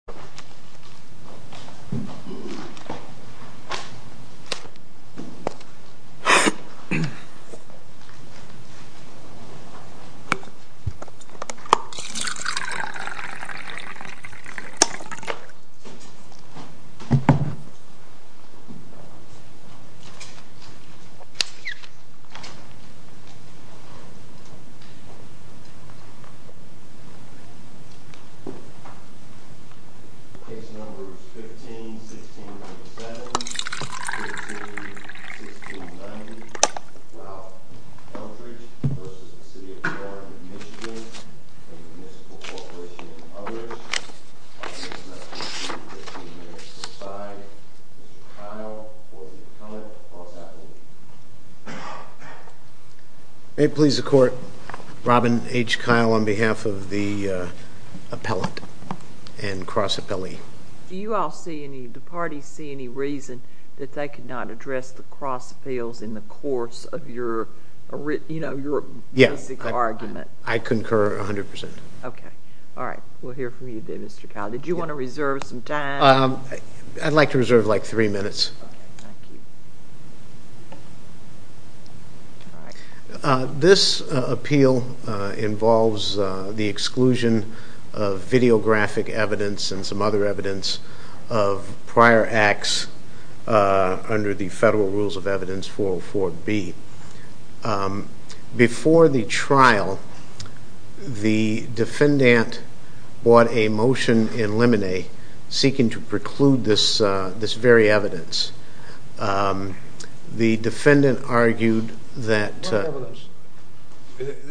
Hello! 3D pen 3D pen 3D pen 3D pen 3D pen 3D pen 3D pen 5. Flooring 5. Flooring 6. Flooring 6. Flooring 6. Flooring 6. Flooring 6. Flooring Cue Appeal of the Federal Rules of Evidence 404-B. Before the trial, the defendant brought a motion in limine seeking to preclude this very evidence. The defendant argued that... ...against the city. ...but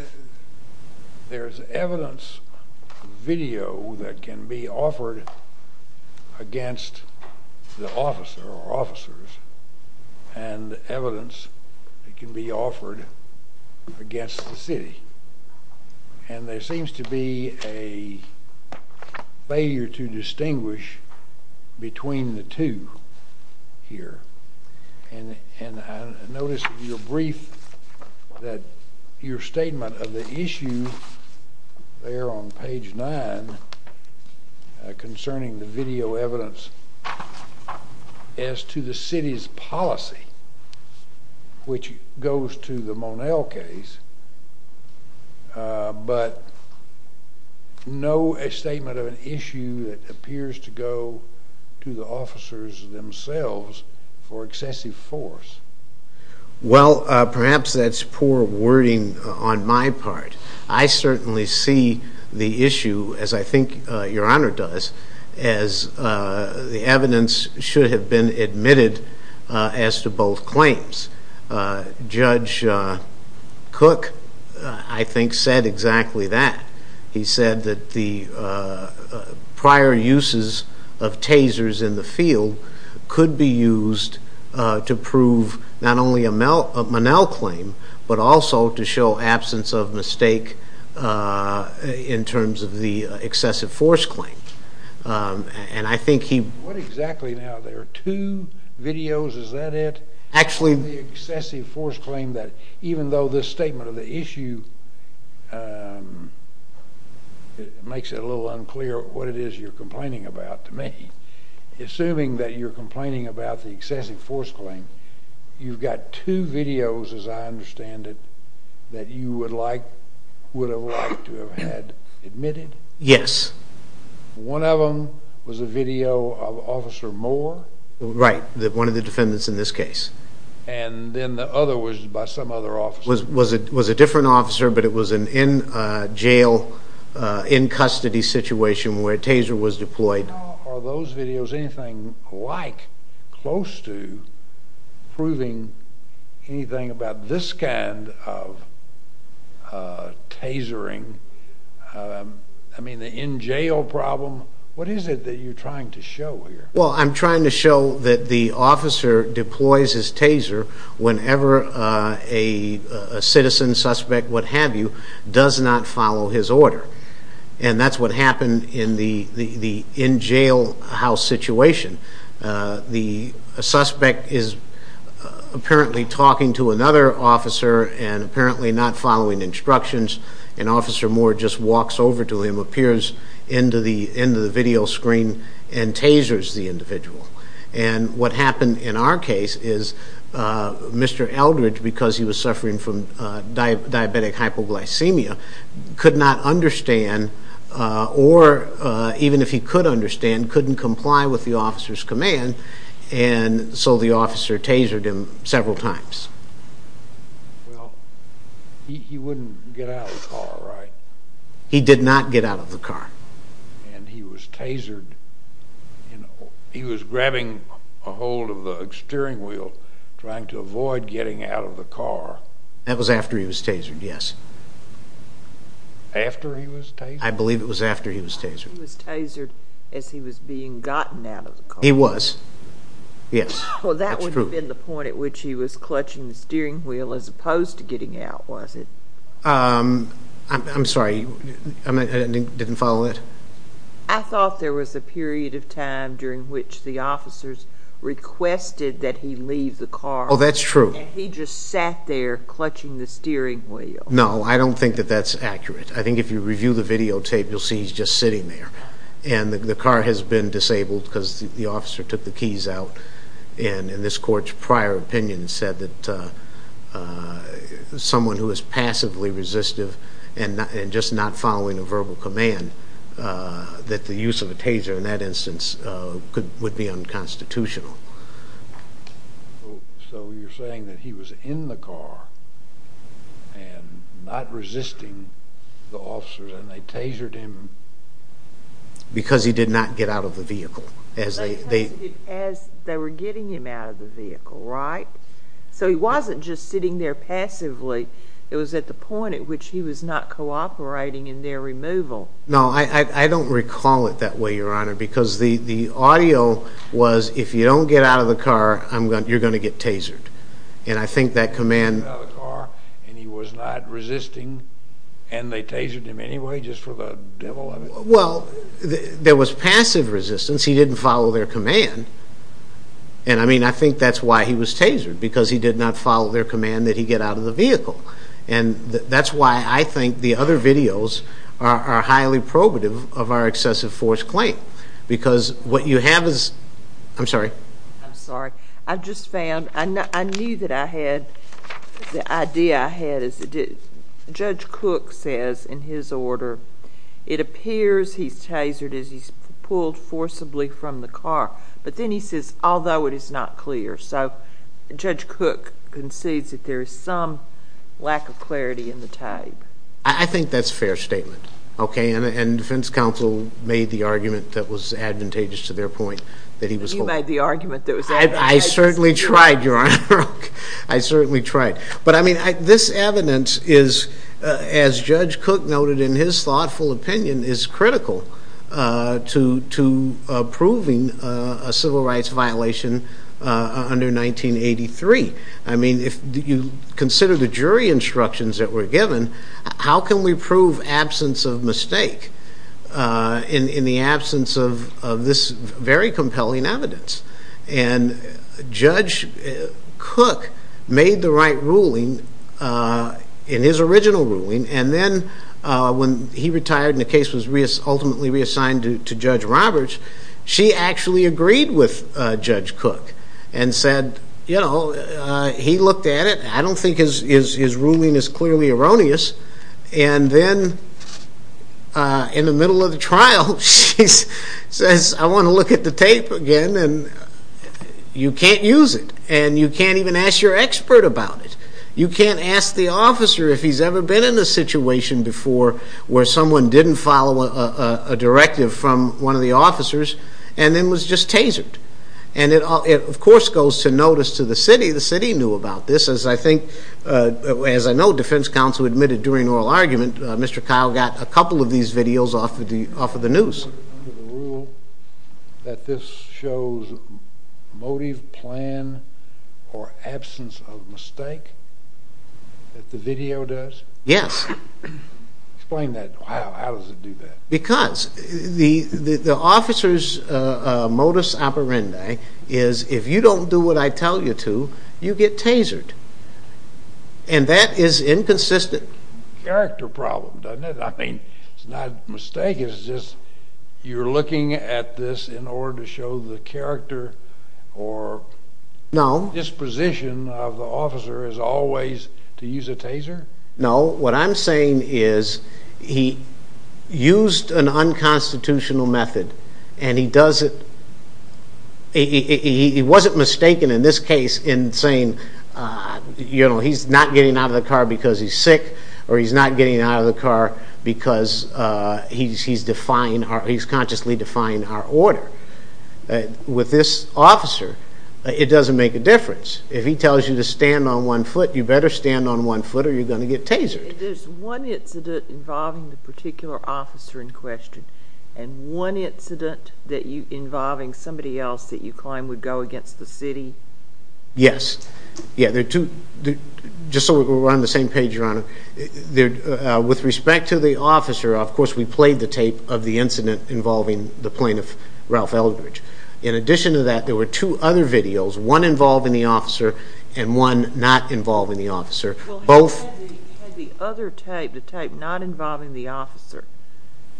no statement of an issue that appears to go to the officers themselves for excessive force. Judge Cook, I think, said exactly that. He said that the prior uses of tasers in the field could be used to prove not only a Monell claim, but also to show absence of mistake in terms of the excessive force claim. And I think he... What exactly now? There are two videos, is that it? Actually... ...the excessive force claim that even though this statement of the issue makes it a little unclear what it is you're complaining about to me, assuming that you're complaining about the excessive force claim, you've got two videos, as I understand it, that you would have liked to have had admitted? Yes. One of them was a video of Officer Moore? Right, one of the defendants in this case. And then the other was by some other officer? It was a different officer, but it was an in-jail, in-custody situation where a taser was deployed. Are those videos anything like, close to, proving anything about this kind of tasering? I mean, the in-jail problem, what is it that you're trying to show here? Well, I'm trying to show that the officer deploys his taser whenever a citizen, suspect, what have you, does not follow his order. And that's what happened in the in-jail house situation. The suspect is apparently talking to another officer and apparently not following instructions. And Officer Moore just walks over to him, appears into the video screen, and tasers the individual. And what happened in our case is Mr. Eldridge, because he was suffering from diabetic hypoglycemia, could not understand, or even if he could understand, couldn't comply with the officer's command, and so the officer tasered him several times. Well, he wouldn't get out of the car, right? He did not get out of the car. And he was tasered, you know, he was grabbing a hold of the steering wheel, trying to avoid getting out of the car. That was after he was tasered, yes. After he was tasered? I believe it was after he was tasered. He was tasered as he was being gotten out of the car. He was, yes. Well, that would have been the point at which he was clutching the steering wheel as opposed to getting out, was it? I'm sorry, I didn't follow that. I thought there was a period of time during which the officers requested that he leave the car. Oh, that's true. And he just sat there clutching the steering wheel. No, I don't think that that's accurate. I think if you review the videotape, you'll see he's just sitting there. And the car has been disabled because the officer took the keys out. And this court's prior opinion said that someone who is passively resistive and just not following a verbal command, that the use of a taser in that instance would be unconstitutional. So you're saying that he was in the car and not resisting the officers and they tasered him? Because he did not get out of the vehicle. As they were getting him out of the vehicle, right? So he wasn't just sitting there passively. It was at the point at which he was not cooperating in their removal. Because the audio was, if you don't get out of the car, you're going to get tasered. And I think that command... He got out of the car and he was not resisting, and they tasered him anyway just for the devil of it? Well, there was passive resistance. He didn't follow their command. And I mean, I think that's why he was tasered, because he did not follow their command that he get out of the vehicle. And that's why I think the other videos are highly probative of our excessive force claim. Because what you have is... I'm sorry. I'm sorry. I just found... I knew that I had... The idea I had is that Judge Cook says in his order, it appears he's tasered as he's pulled forcibly from the car. But then he says, although it is not clear. So Judge Cook concedes that there is some lack of clarity in the tape. I think that's a fair statement. And defense counsel made the argument that was advantageous to their point that he was pulled. You made the argument that was advantageous to their point. I certainly tried, Your Honor. I certainly tried. But I mean, this evidence is, as Judge Cook noted in his thoughtful opinion, is critical to proving a civil rights violation under 1983. I mean, if you consider the jury instructions that were given, how can we prove absence of mistake in the absence of this very compelling evidence? And Judge Cook made the right ruling in his original ruling. And then when he retired and the case was ultimately reassigned to Judge Roberts, she actually agreed with Judge Cook and said, you know, he looked at it. I don't think his ruling is clearly erroneous. And then in the middle of the trial, she says, I want to look at the tape again. And you can't use it. And you can't even ask your expert about it. You can't ask the officer if he's ever been in a situation before where someone didn't follow a directive from one of the officers and then was just tasered. And it, of course, goes to notice to the city. The city knew about this. I think, as I know, defense counsel admitted during oral argument, Mr. Kyle got a couple of these videos off of the news. Under the rule that this shows motive, plan, or absence of mistake that the video does? Yes. Explain that. How does it do that? Because the officer's modus operandi is if you don't do what I tell you to, you get tasered. And that is inconsistent. Character problem, doesn't it? I mean, it's not a mistake. It's just you're looking at this in order to show the character or disposition of the officer as always to use a taser? No. What I'm saying is he used an unconstitutional method and he doesn't, he wasn't mistaken in this case in saying, you know, he's not getting out of the car because he's sick or he's not getting out of the car because he's defying, he's consciously defying our order. With this officer, it doesn't make a difference. If he tells you to stand on one foot, you better stand on one foot or you're going to get tasered. There's one incident involving the particular officer in question and one incident involving somebody else that you claim would go against the city? Yes. Just so we're on the same page, Your Honor, with respect to the officer, of course we played the tape of the incident involving the plaintiff, Ralph Eldridge. In addition to that, there were two other videos, one involving the officer and one not involving the officer. Had the other tape, the tape not involving the officer,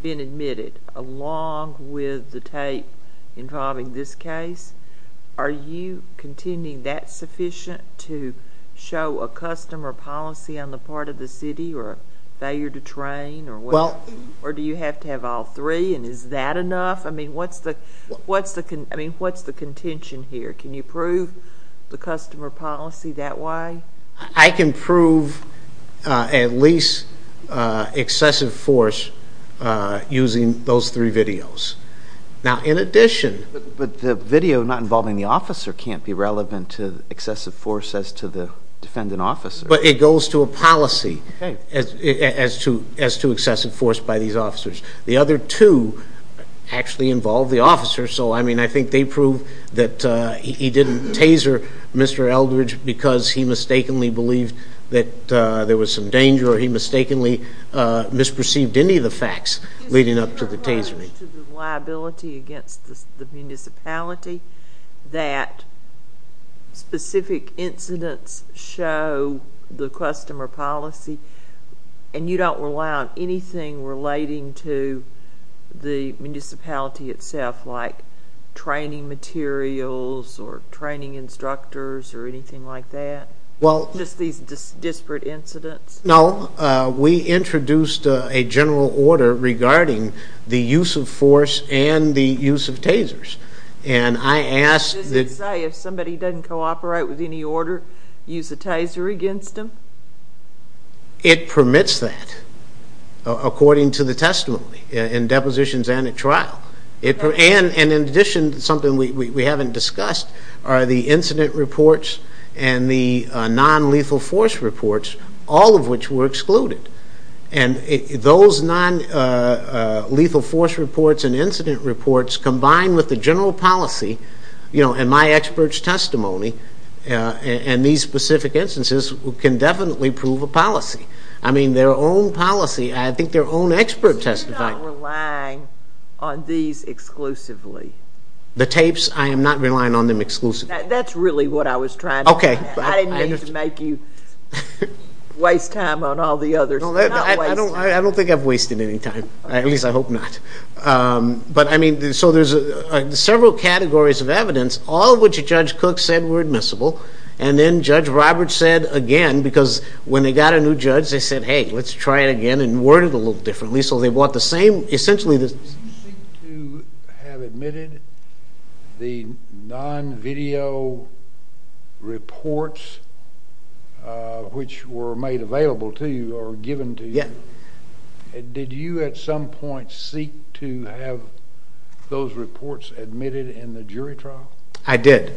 been admitted along with the tape involving this case? Are you contending that's sufficient to show a custom or policy on the part of the city or failure to train or what? Or do you have to have all three and is that enough? I mean, what's the contention here? Can you prove the custom or policy that way? I can prove at least excessive force using those three videos. Now, in addition— But the video not involving the officer can't be relevant to excessive force as to the defendant officer. But it goes to a policy as to excessive force by these officers. The other two actually involve the officer. So, I mean, I think they prove that he didn't taser Mr. Eldridge because he mistakenly believed that there was some danger or he mistakenly misperceived any of the facts leading up to the tasering. Is there a charge to the liability against the municipality that specific incidents show the custom or policy and you don't rely on anything relating to the municipality itself like training materials or training instructors or anything like that? Well— Just these disparate incidents? No, we introduced a general order regarding the use of force and the use of tasers. And I asked that— It permits that according to the testimony in depositions and at trial. And in addition to something we haven't discussed are the incident reports and the non-lethal force reports, all of which were excluded. And those non-lethal force reports and incident reports combined with the general policy and my expert's testimony and these specific instances can definitely prove a policy. I mean, their own policy, I think their own expert testified— So you're not relying on these exclusively? The tapes, I am not relying on them exclusively. That's really what I was trying to— Okay. I didn't mean to make you waste time on all the others. I don't think I've wasted any time. At least I hope not. But, I mean, so there's several categories of evidence, all of which Judge Cook said were admissible. And then Judge Roberts said again, because when they got a new judge, they said, hey, let's try it again and word it a little differently. So they brought the same—essentially— You seem to have admitted the non-video reports which were made available to you or given to you. Yeah. Did you at some point seek to have those reports admitted in the jury trial? I did.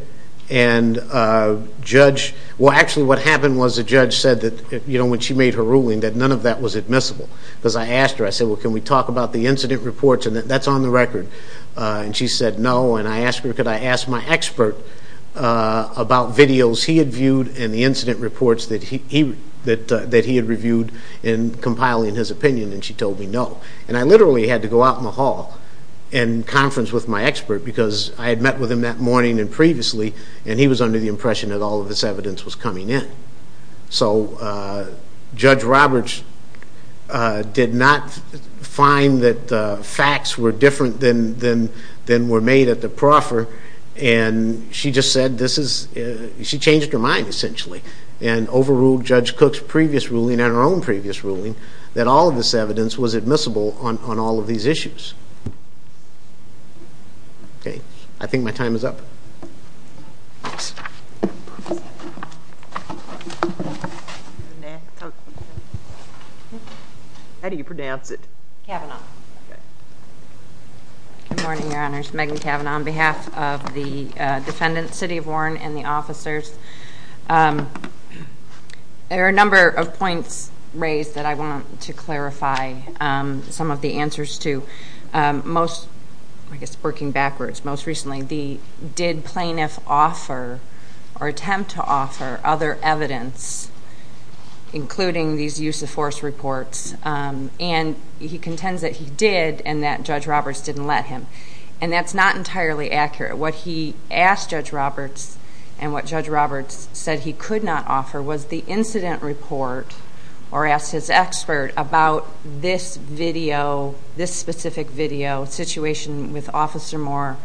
And Judge—well, actually what happened was the judge said that when she made her ruling that none of that was admissible. Because I asked her, I said, well, can we talk about the incident reports? And that's on the record. And she said no. And I asked her, could I ask my expert about videos he had viewed and the incident reports that he had reviewed in compiling his opinion? And she told me no. And I literally had to go out in the hall and conference with my expert because I had met with him that morning and previously, and he was under the impression that all of this evidence was coming in. So Judge Roberts did not find that the facts were different than were made at the proffer. And she just said this is—she changed her mind essentially and overruled Judge Cook's previous ruling and her own previous ruling that all of this evidence was admissible on all of these issues. I think my time is up. How do you pronounce it? Kavanaugh. Good morning, Your Honors. Megan Kavanaugh on behalf of the defendants, City of Warren, and the officers. There are a number of points raised that I want to clarify some of the answers to. Most, I guess working backwards, most recently, the did plaintiff offer or attempt to offer other evidence, including these use of force reports, and he contends that he did and that Judge Roberts didn't let him. And that's not entirely accurate. What he asked Judge Roberts and what Judge Roberts said he could not offer was the incident report or asked his expert about this video, this specific video, situation with Officer Moore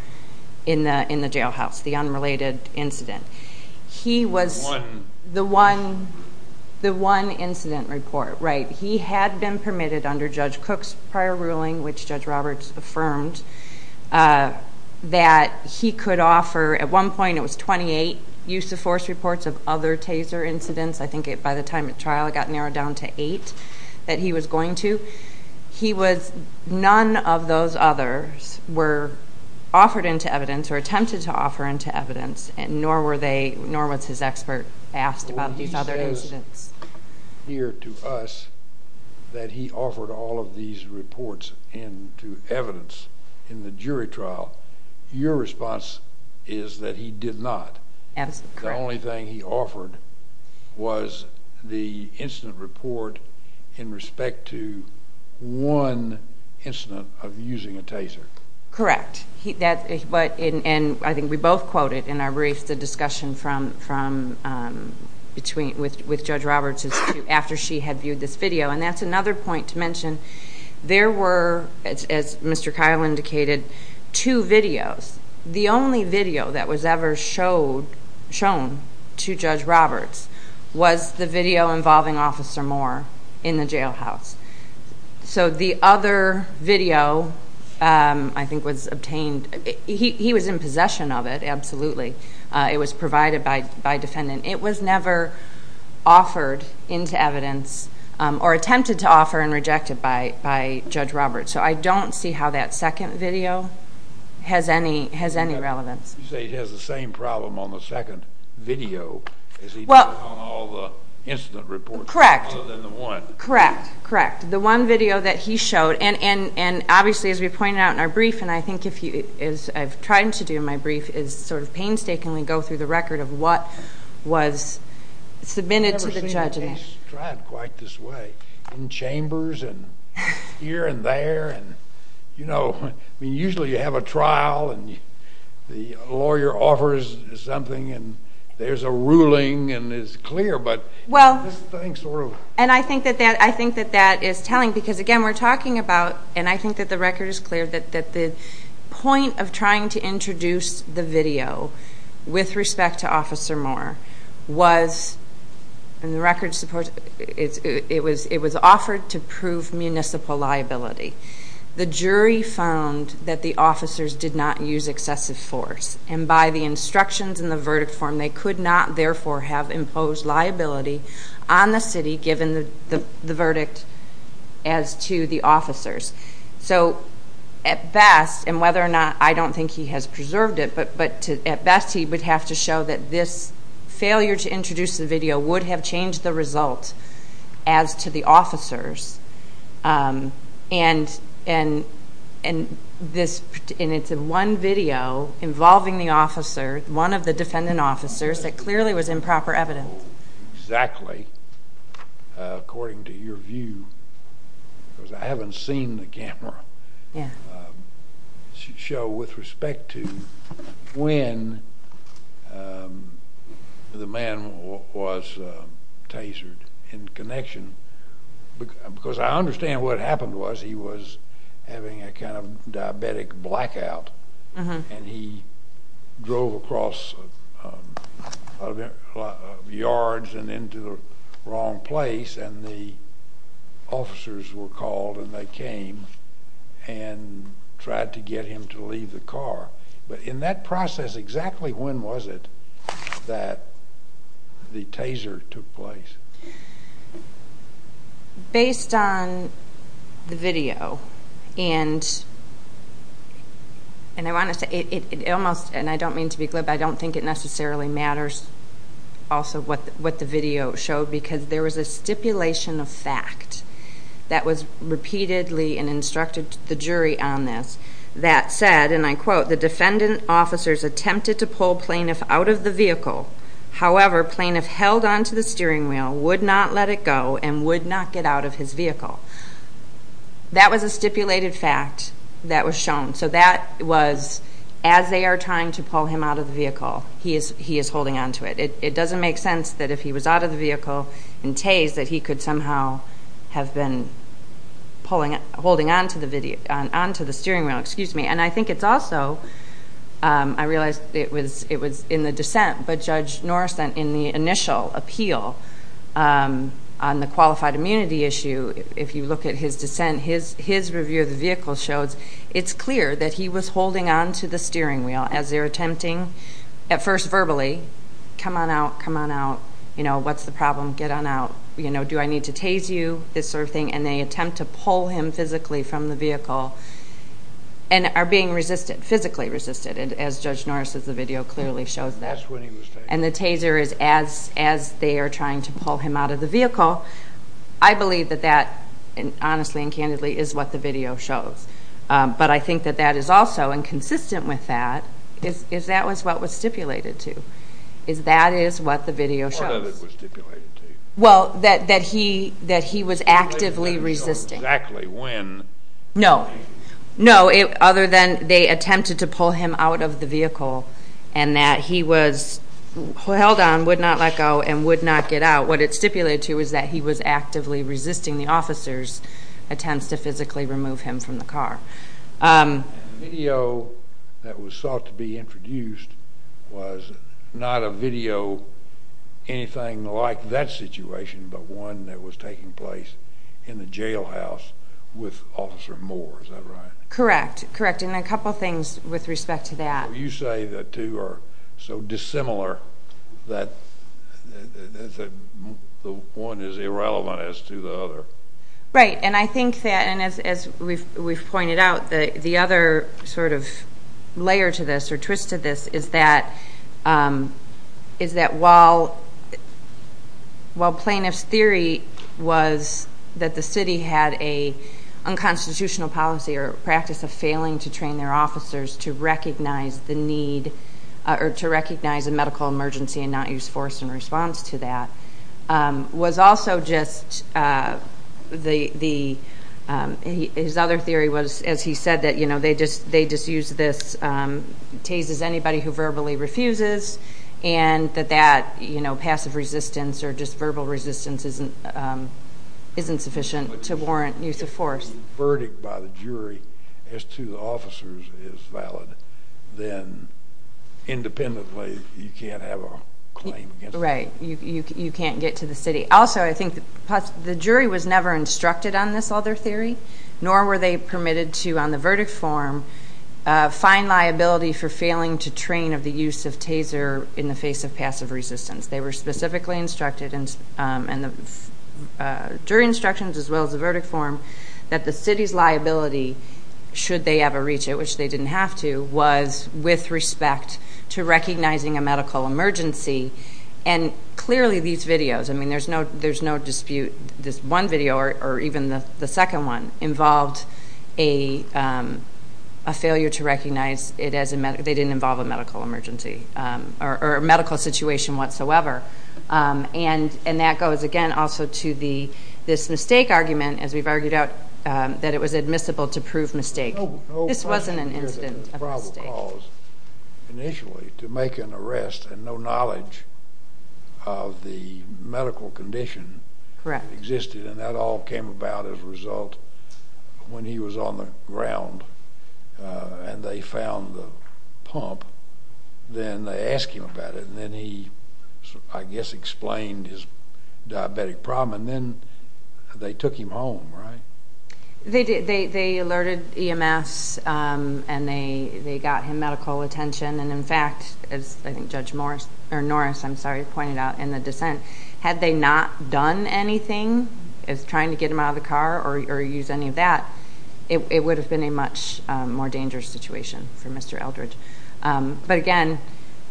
in the jailhouse, the unrelated incident. He was the one incident report. Right. He had been permitted under Judge Cook's prior ruling, which Judge Roberts affirmed, that he could offer, at one point it was 28 use of force reports of other taser incidents. I think by the time the trial got narrowed down to eight that he was going to. He was, none of those others were offered into evidence or attempted to offer into evidence, nor were they, nor was his expert asked about these other incidents. Here to us that he offered all of these reports into evidence in the jury trial, your response is that he did not. Absolutely. The only thing he offered was the incident report in respect to one incident of using a taser. Correct. I think we both quoted in our brief the discussion with Judge Roberts after she had viewed this video, and that's another point to mention. There were, as Mr. Kyle indicated, two videos. The only video that was ever shown to Judge Roberts was the video involving Officer Moore in the jailhouse. So the other video I think was obtained, he was in possession of it, absolutely. It was provided by defendant. It was never offered into evidence or attempted to offer and rejected by Judge Roberts. So I don't see how that second video has any relevance. You say he has the same problem on the second video as he did on all the incident reports other than the one. Correct, correct. The one video that he showed, and obviously as we pointed out in our brief, and I think as I've tried to do in my brief, is sort of painstakingly go through the record of what was submitted to the judge. I've never seen a case tried quite this way in chambers and here and there. Usually you have a trial, and the lawyer offers something, and there's a ruling, and it's clear. Thanks, Rue. And I think that that is telling because, again, we're talking about, and I think that the record is clear that the point of trying to introduce the video with respect to Officer Moore was, and the record, it was offered to prove municipal liability. The jury found that the officers did not use excessive force, and by the instructions in the verdict form they could not, therefore, have imposed liability on the city given the verdict as to the officers. So at best, and whether or not, I don't think he has preserved it, but at best he would have to show that this failure to introduce the video would have changed the result as to the officers. And it's one video involving the officer, one of the defendant officers, that clearly was improper evidence. Exactly. According to your view, because I haven't seen the camera, show with respect to when the man was tasered in connection, because I understand what happened was he was having a kind of diabetic blackout, and he drove across a lot of yards and into the wrong place, and the officers were called and they came and tried to get him to leave the car. But in that process, exactly when was it that the taser took place? Based on the video, and I want to say it almost, and I don't mean to be glib, I don't think it necessarily matters also what the video showed, because there was a stipulation of fact that was repeatedly instructed to the jury on this that said, and I quote, the defendant officers attempted to pull plaintiff out of the vehicle. However, plaintiff held onto the steering wheel, would not let it go, and would not get out of his vehicle. That was a stipulated fact that was shown. So that was, as they are trying to pull him out of the vehicle, he is holding onto it. It doesn't make sense that if he was out of the vehicle and tased, that he could somehow have been holding onto the steering wheel. And I think it's also, I realize it was in the dissent, but Judge Norris, in the initial appeal on the qualified immunity issue, if you look at his dissent, his review of the vehicle shows it's clear that he was holding onto the steering wheel as they're attempting, at first verbally, come on out, come on out, you know, what's the problem, get on out, you know, do I need to tase you, this sort of thing, and they attempt to pull him physically from the vehicle, and are being physically resisted, as Judge Norris, as the video clearly shows that. And the taser is as they are trying to pull him out of the vehicle, I believe that that, honestly and candidly, is what the video shows. But I think that that is also, and consistent with that, is that was what was stipulated to, is that is what the video shows. What did it stipulate to? Well, that he was actively resisting. They didn't show exactly when. No, no, other than they attempted to pull him out of the vehicle, and that he was held on, would not let go, and would not get out. But what it stipulated to was that he was actively resisting the officer's attempts to physically remove him from the car. The video that was sought to be introduced was not a video, anything like that situation, but one that was taking place in the jailhouse with Officer Moore, is that right? Correct, correct, and a couple things with respect to that. You say the two are so dissimilar that the one is irrelevant as to the other. Right, and I think that, as we've pointed out, the other sort of layer to this, or twist to this, is that while plaintiff's theory was that the city had an unconstitutional policy or practice of failing to train their officers to recognize the need, or to recognize a medical emergency and not use force in response to that, was also just the, his other theory was, as he said, that they just use this, tases anybody who verbally refuses, and that that passive resistance or just verbal resistance isn't sufficient to warrant use of force. If the verdict by the jury as to the officers is valid, then independently you can't have a claim against them. Right, you can't get to the city. Also, I think the jury was never instructed on this other theory, nor were they permitted to, on the verdict form, find liability for failing to train of the use of taser in the face of passive resistance. They were specifically instructed in the jury instructions as well as the verdict form that the city's liability, should they ever reach it, which they didn't have to, was with respect to recognizing a medical emergency. And clearly these videos, I mean there's no dispute, this one video or even the second one, involved a failure to recognize it as a medical, they didn't involve a medical emergency, or a medical situation whatsoever. And that goes, again, also to this mistake argument, as we've argued out, that it was admissible to prove mistake. This wasn't an incident of mistake. Initially, to make an arrest and no knowledge of the medical condition existed, and that all came about as a result when he was on the ground and they found the pump, then they asked him about it, and then he, I guess, explained his diabetic problem, and then they took him home, right? They alerted EMS and they got him medical attention, and in fact, as I think Judge Morris, or Norris, I'm sorry, pointed out in the dissent, had they not done anything, as trying to get him out of the car or use any of that, it would have been a much more dangerous situation for Mr. Eldridge. But again,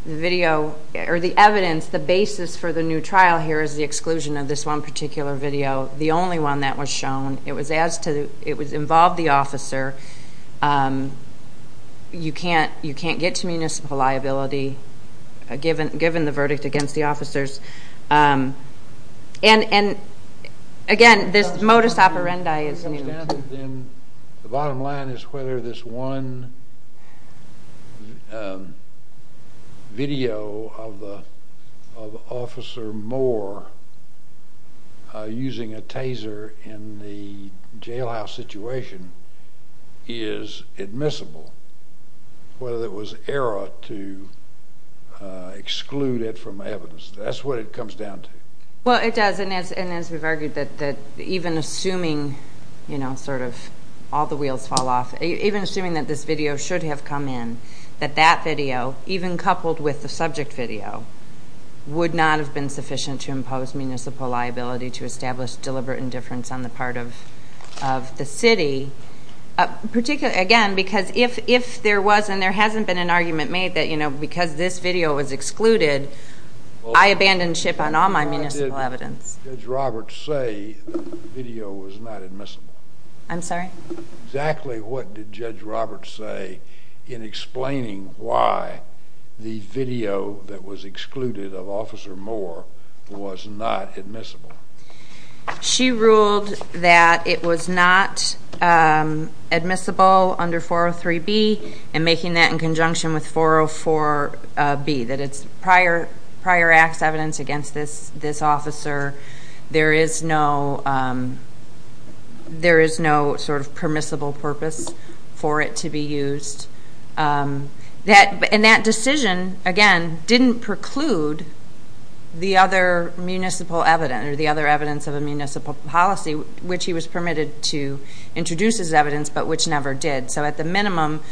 the video, or the evidence, the basis for the new trial here, is the exclusion of this one particular video, the only one that was shown. It was involved the officer. You can't get to municipal liability given the verdict against the officers. And again, this modus operandi is new. The bottom line is whether this one video of Officer Moore using a taser in the jailhouse situation is admissible, whether it was error to exclude it from evidence. That's what it comes down to. Well, it does, and as we've argued, that even assuming sort of all the wheels fall off, even assuming that this video should have come in, that that video, even coupled with the subject video, would not have been sufficient to impose municipal liability to establish deliberate indifference on the part of the city, again, because if there was and there hasn't been an argument made that, you know, because this video was excluded, I abandon ship on all my municipal evidence. What did Judge Roberts say the video was not admissible? I'm sorry? Exactly what did Judge Roberts say in explaining why the video that was excluded of Officer Moore was not admissible? She ruled that it was not admissible under 403B and making that in conjunction with 404B, that it's prior acts evidence against this officer. There is no sort of permissible purpose for it to be used. And that decision, again, didn't preclude the other municipal evidence or the other evidence of a municipal policy, which he was permitted to introduce as evidence, but which never did. So at the minimum,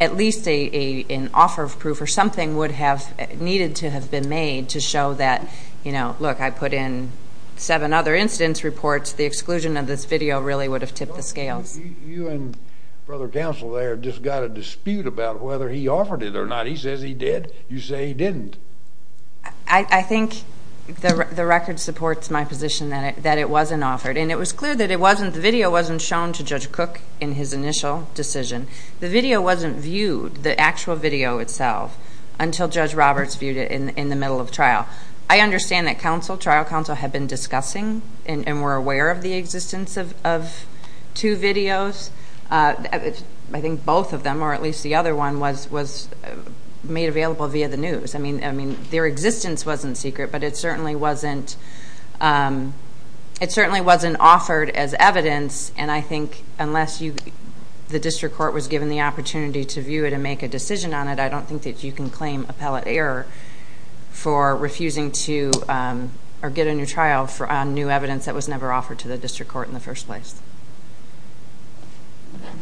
at least an offer of proof or something would have needed to have been made to show that, you know, look, I put in seven other instance reports. The exclusion of this video really would have tipped the scales. You and Brother Counsel there just got a dispute about whether he offered it or not. He says he did. You say he didn't. I think the record supports my position that it wasn't offered. And it was clear that the video wasn't shown to Judge Cook in his initial decision. The video wasn't viewed, the actual video itself, until Judge Roberts viewed it in the middle of trial. I understand that trial counsel had been discussing and were aware of the existence of two videos. I think both of them, or at least the other one, was made available via the news. I mean, their existence wasn't secret, but it certainly wasn't offered as evidence. And I think unless the district court was given the opportunity to view it and make a decision on it, I don't think that you can claim appellate error for refusing to get a new trial on new evidence that was never offered to the district court in the first place.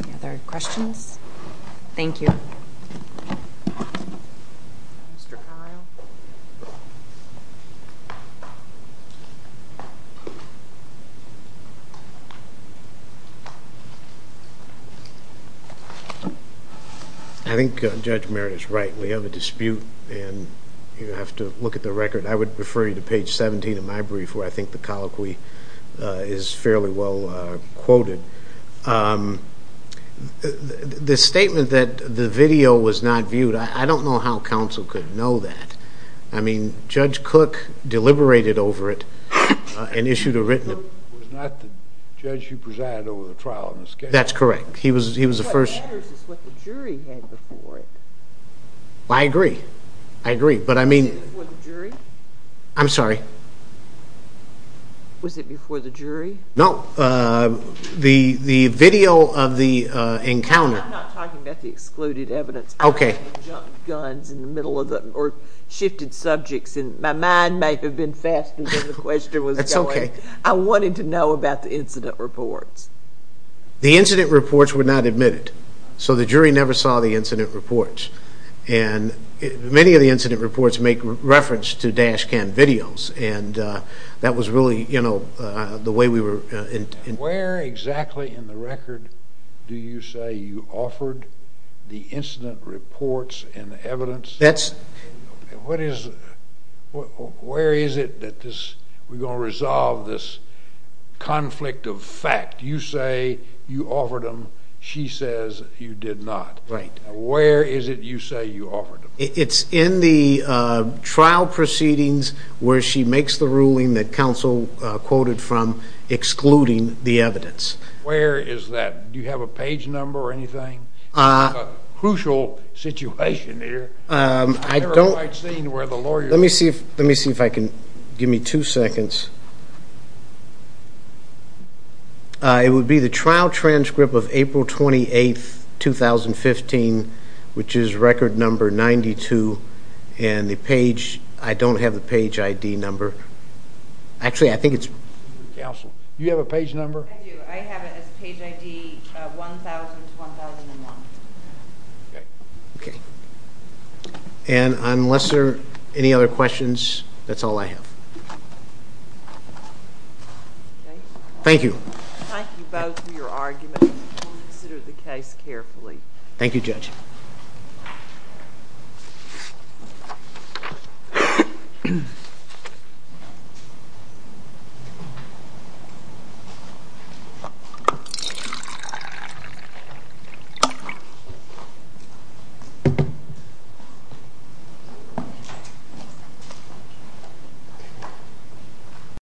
Any other questions? Thank you. Mr. Kyle. I think Judge Merritt is right. We have a dispute, and you have to look at the record. I would refer you to page 17 of my brief where I think the colloquy is fairly well quoted. The statement that the video was not viewed, I don't know how counsel could know that. I mean, Judge Cook deliberated over it and issued a written... Judge Cook was not the judge who presided over the trial in this case. That's correct. He was the first... What matters is what the jury had before it. I agree. I agree. Was it before the jury? I'm sorry? Was it before the jury? No. The video of the encounter... I'm not talking about the excluded evidence. Okay. I don't want to jump guns in the middle of the... or shifted subjects. My mind may have been faster than the question was going. That's okay. I wanted to know about the incident reports. The incident reports were not admitted, so the jury never saw the incident reports. And many of the incident reports make reference to dash cam videos, and that was really the way we were... Where exactly in the record do you say you offered the incident reports and the evidence? That's... Where is it that we're going to resolve this conflict of fact? You say you offered them. She says you did not. Right. Where is it you say you offered them? It's in the trial proceedings where she makes the ruling that counsel quoted from excluding the evidence. Where is that? Do you have a page number or anything? It's a crucial situation here. I don't... I've never quite seen where the lawyer... Let me see if I can... give me two seconds. It would be the trial transcript of April 28, 2015, which is record number 92, and the page... I don't have the page ID number. Actually, I think it's... Counsel, do you have a page number? I do. I have it as page ID 1000-1001. Okay. Okay. And unless there are any other questions, that's all I have. Okay. Thank you. Thank you both for your argument. We will consider the case carefully. Thank you, Judge. Thank you.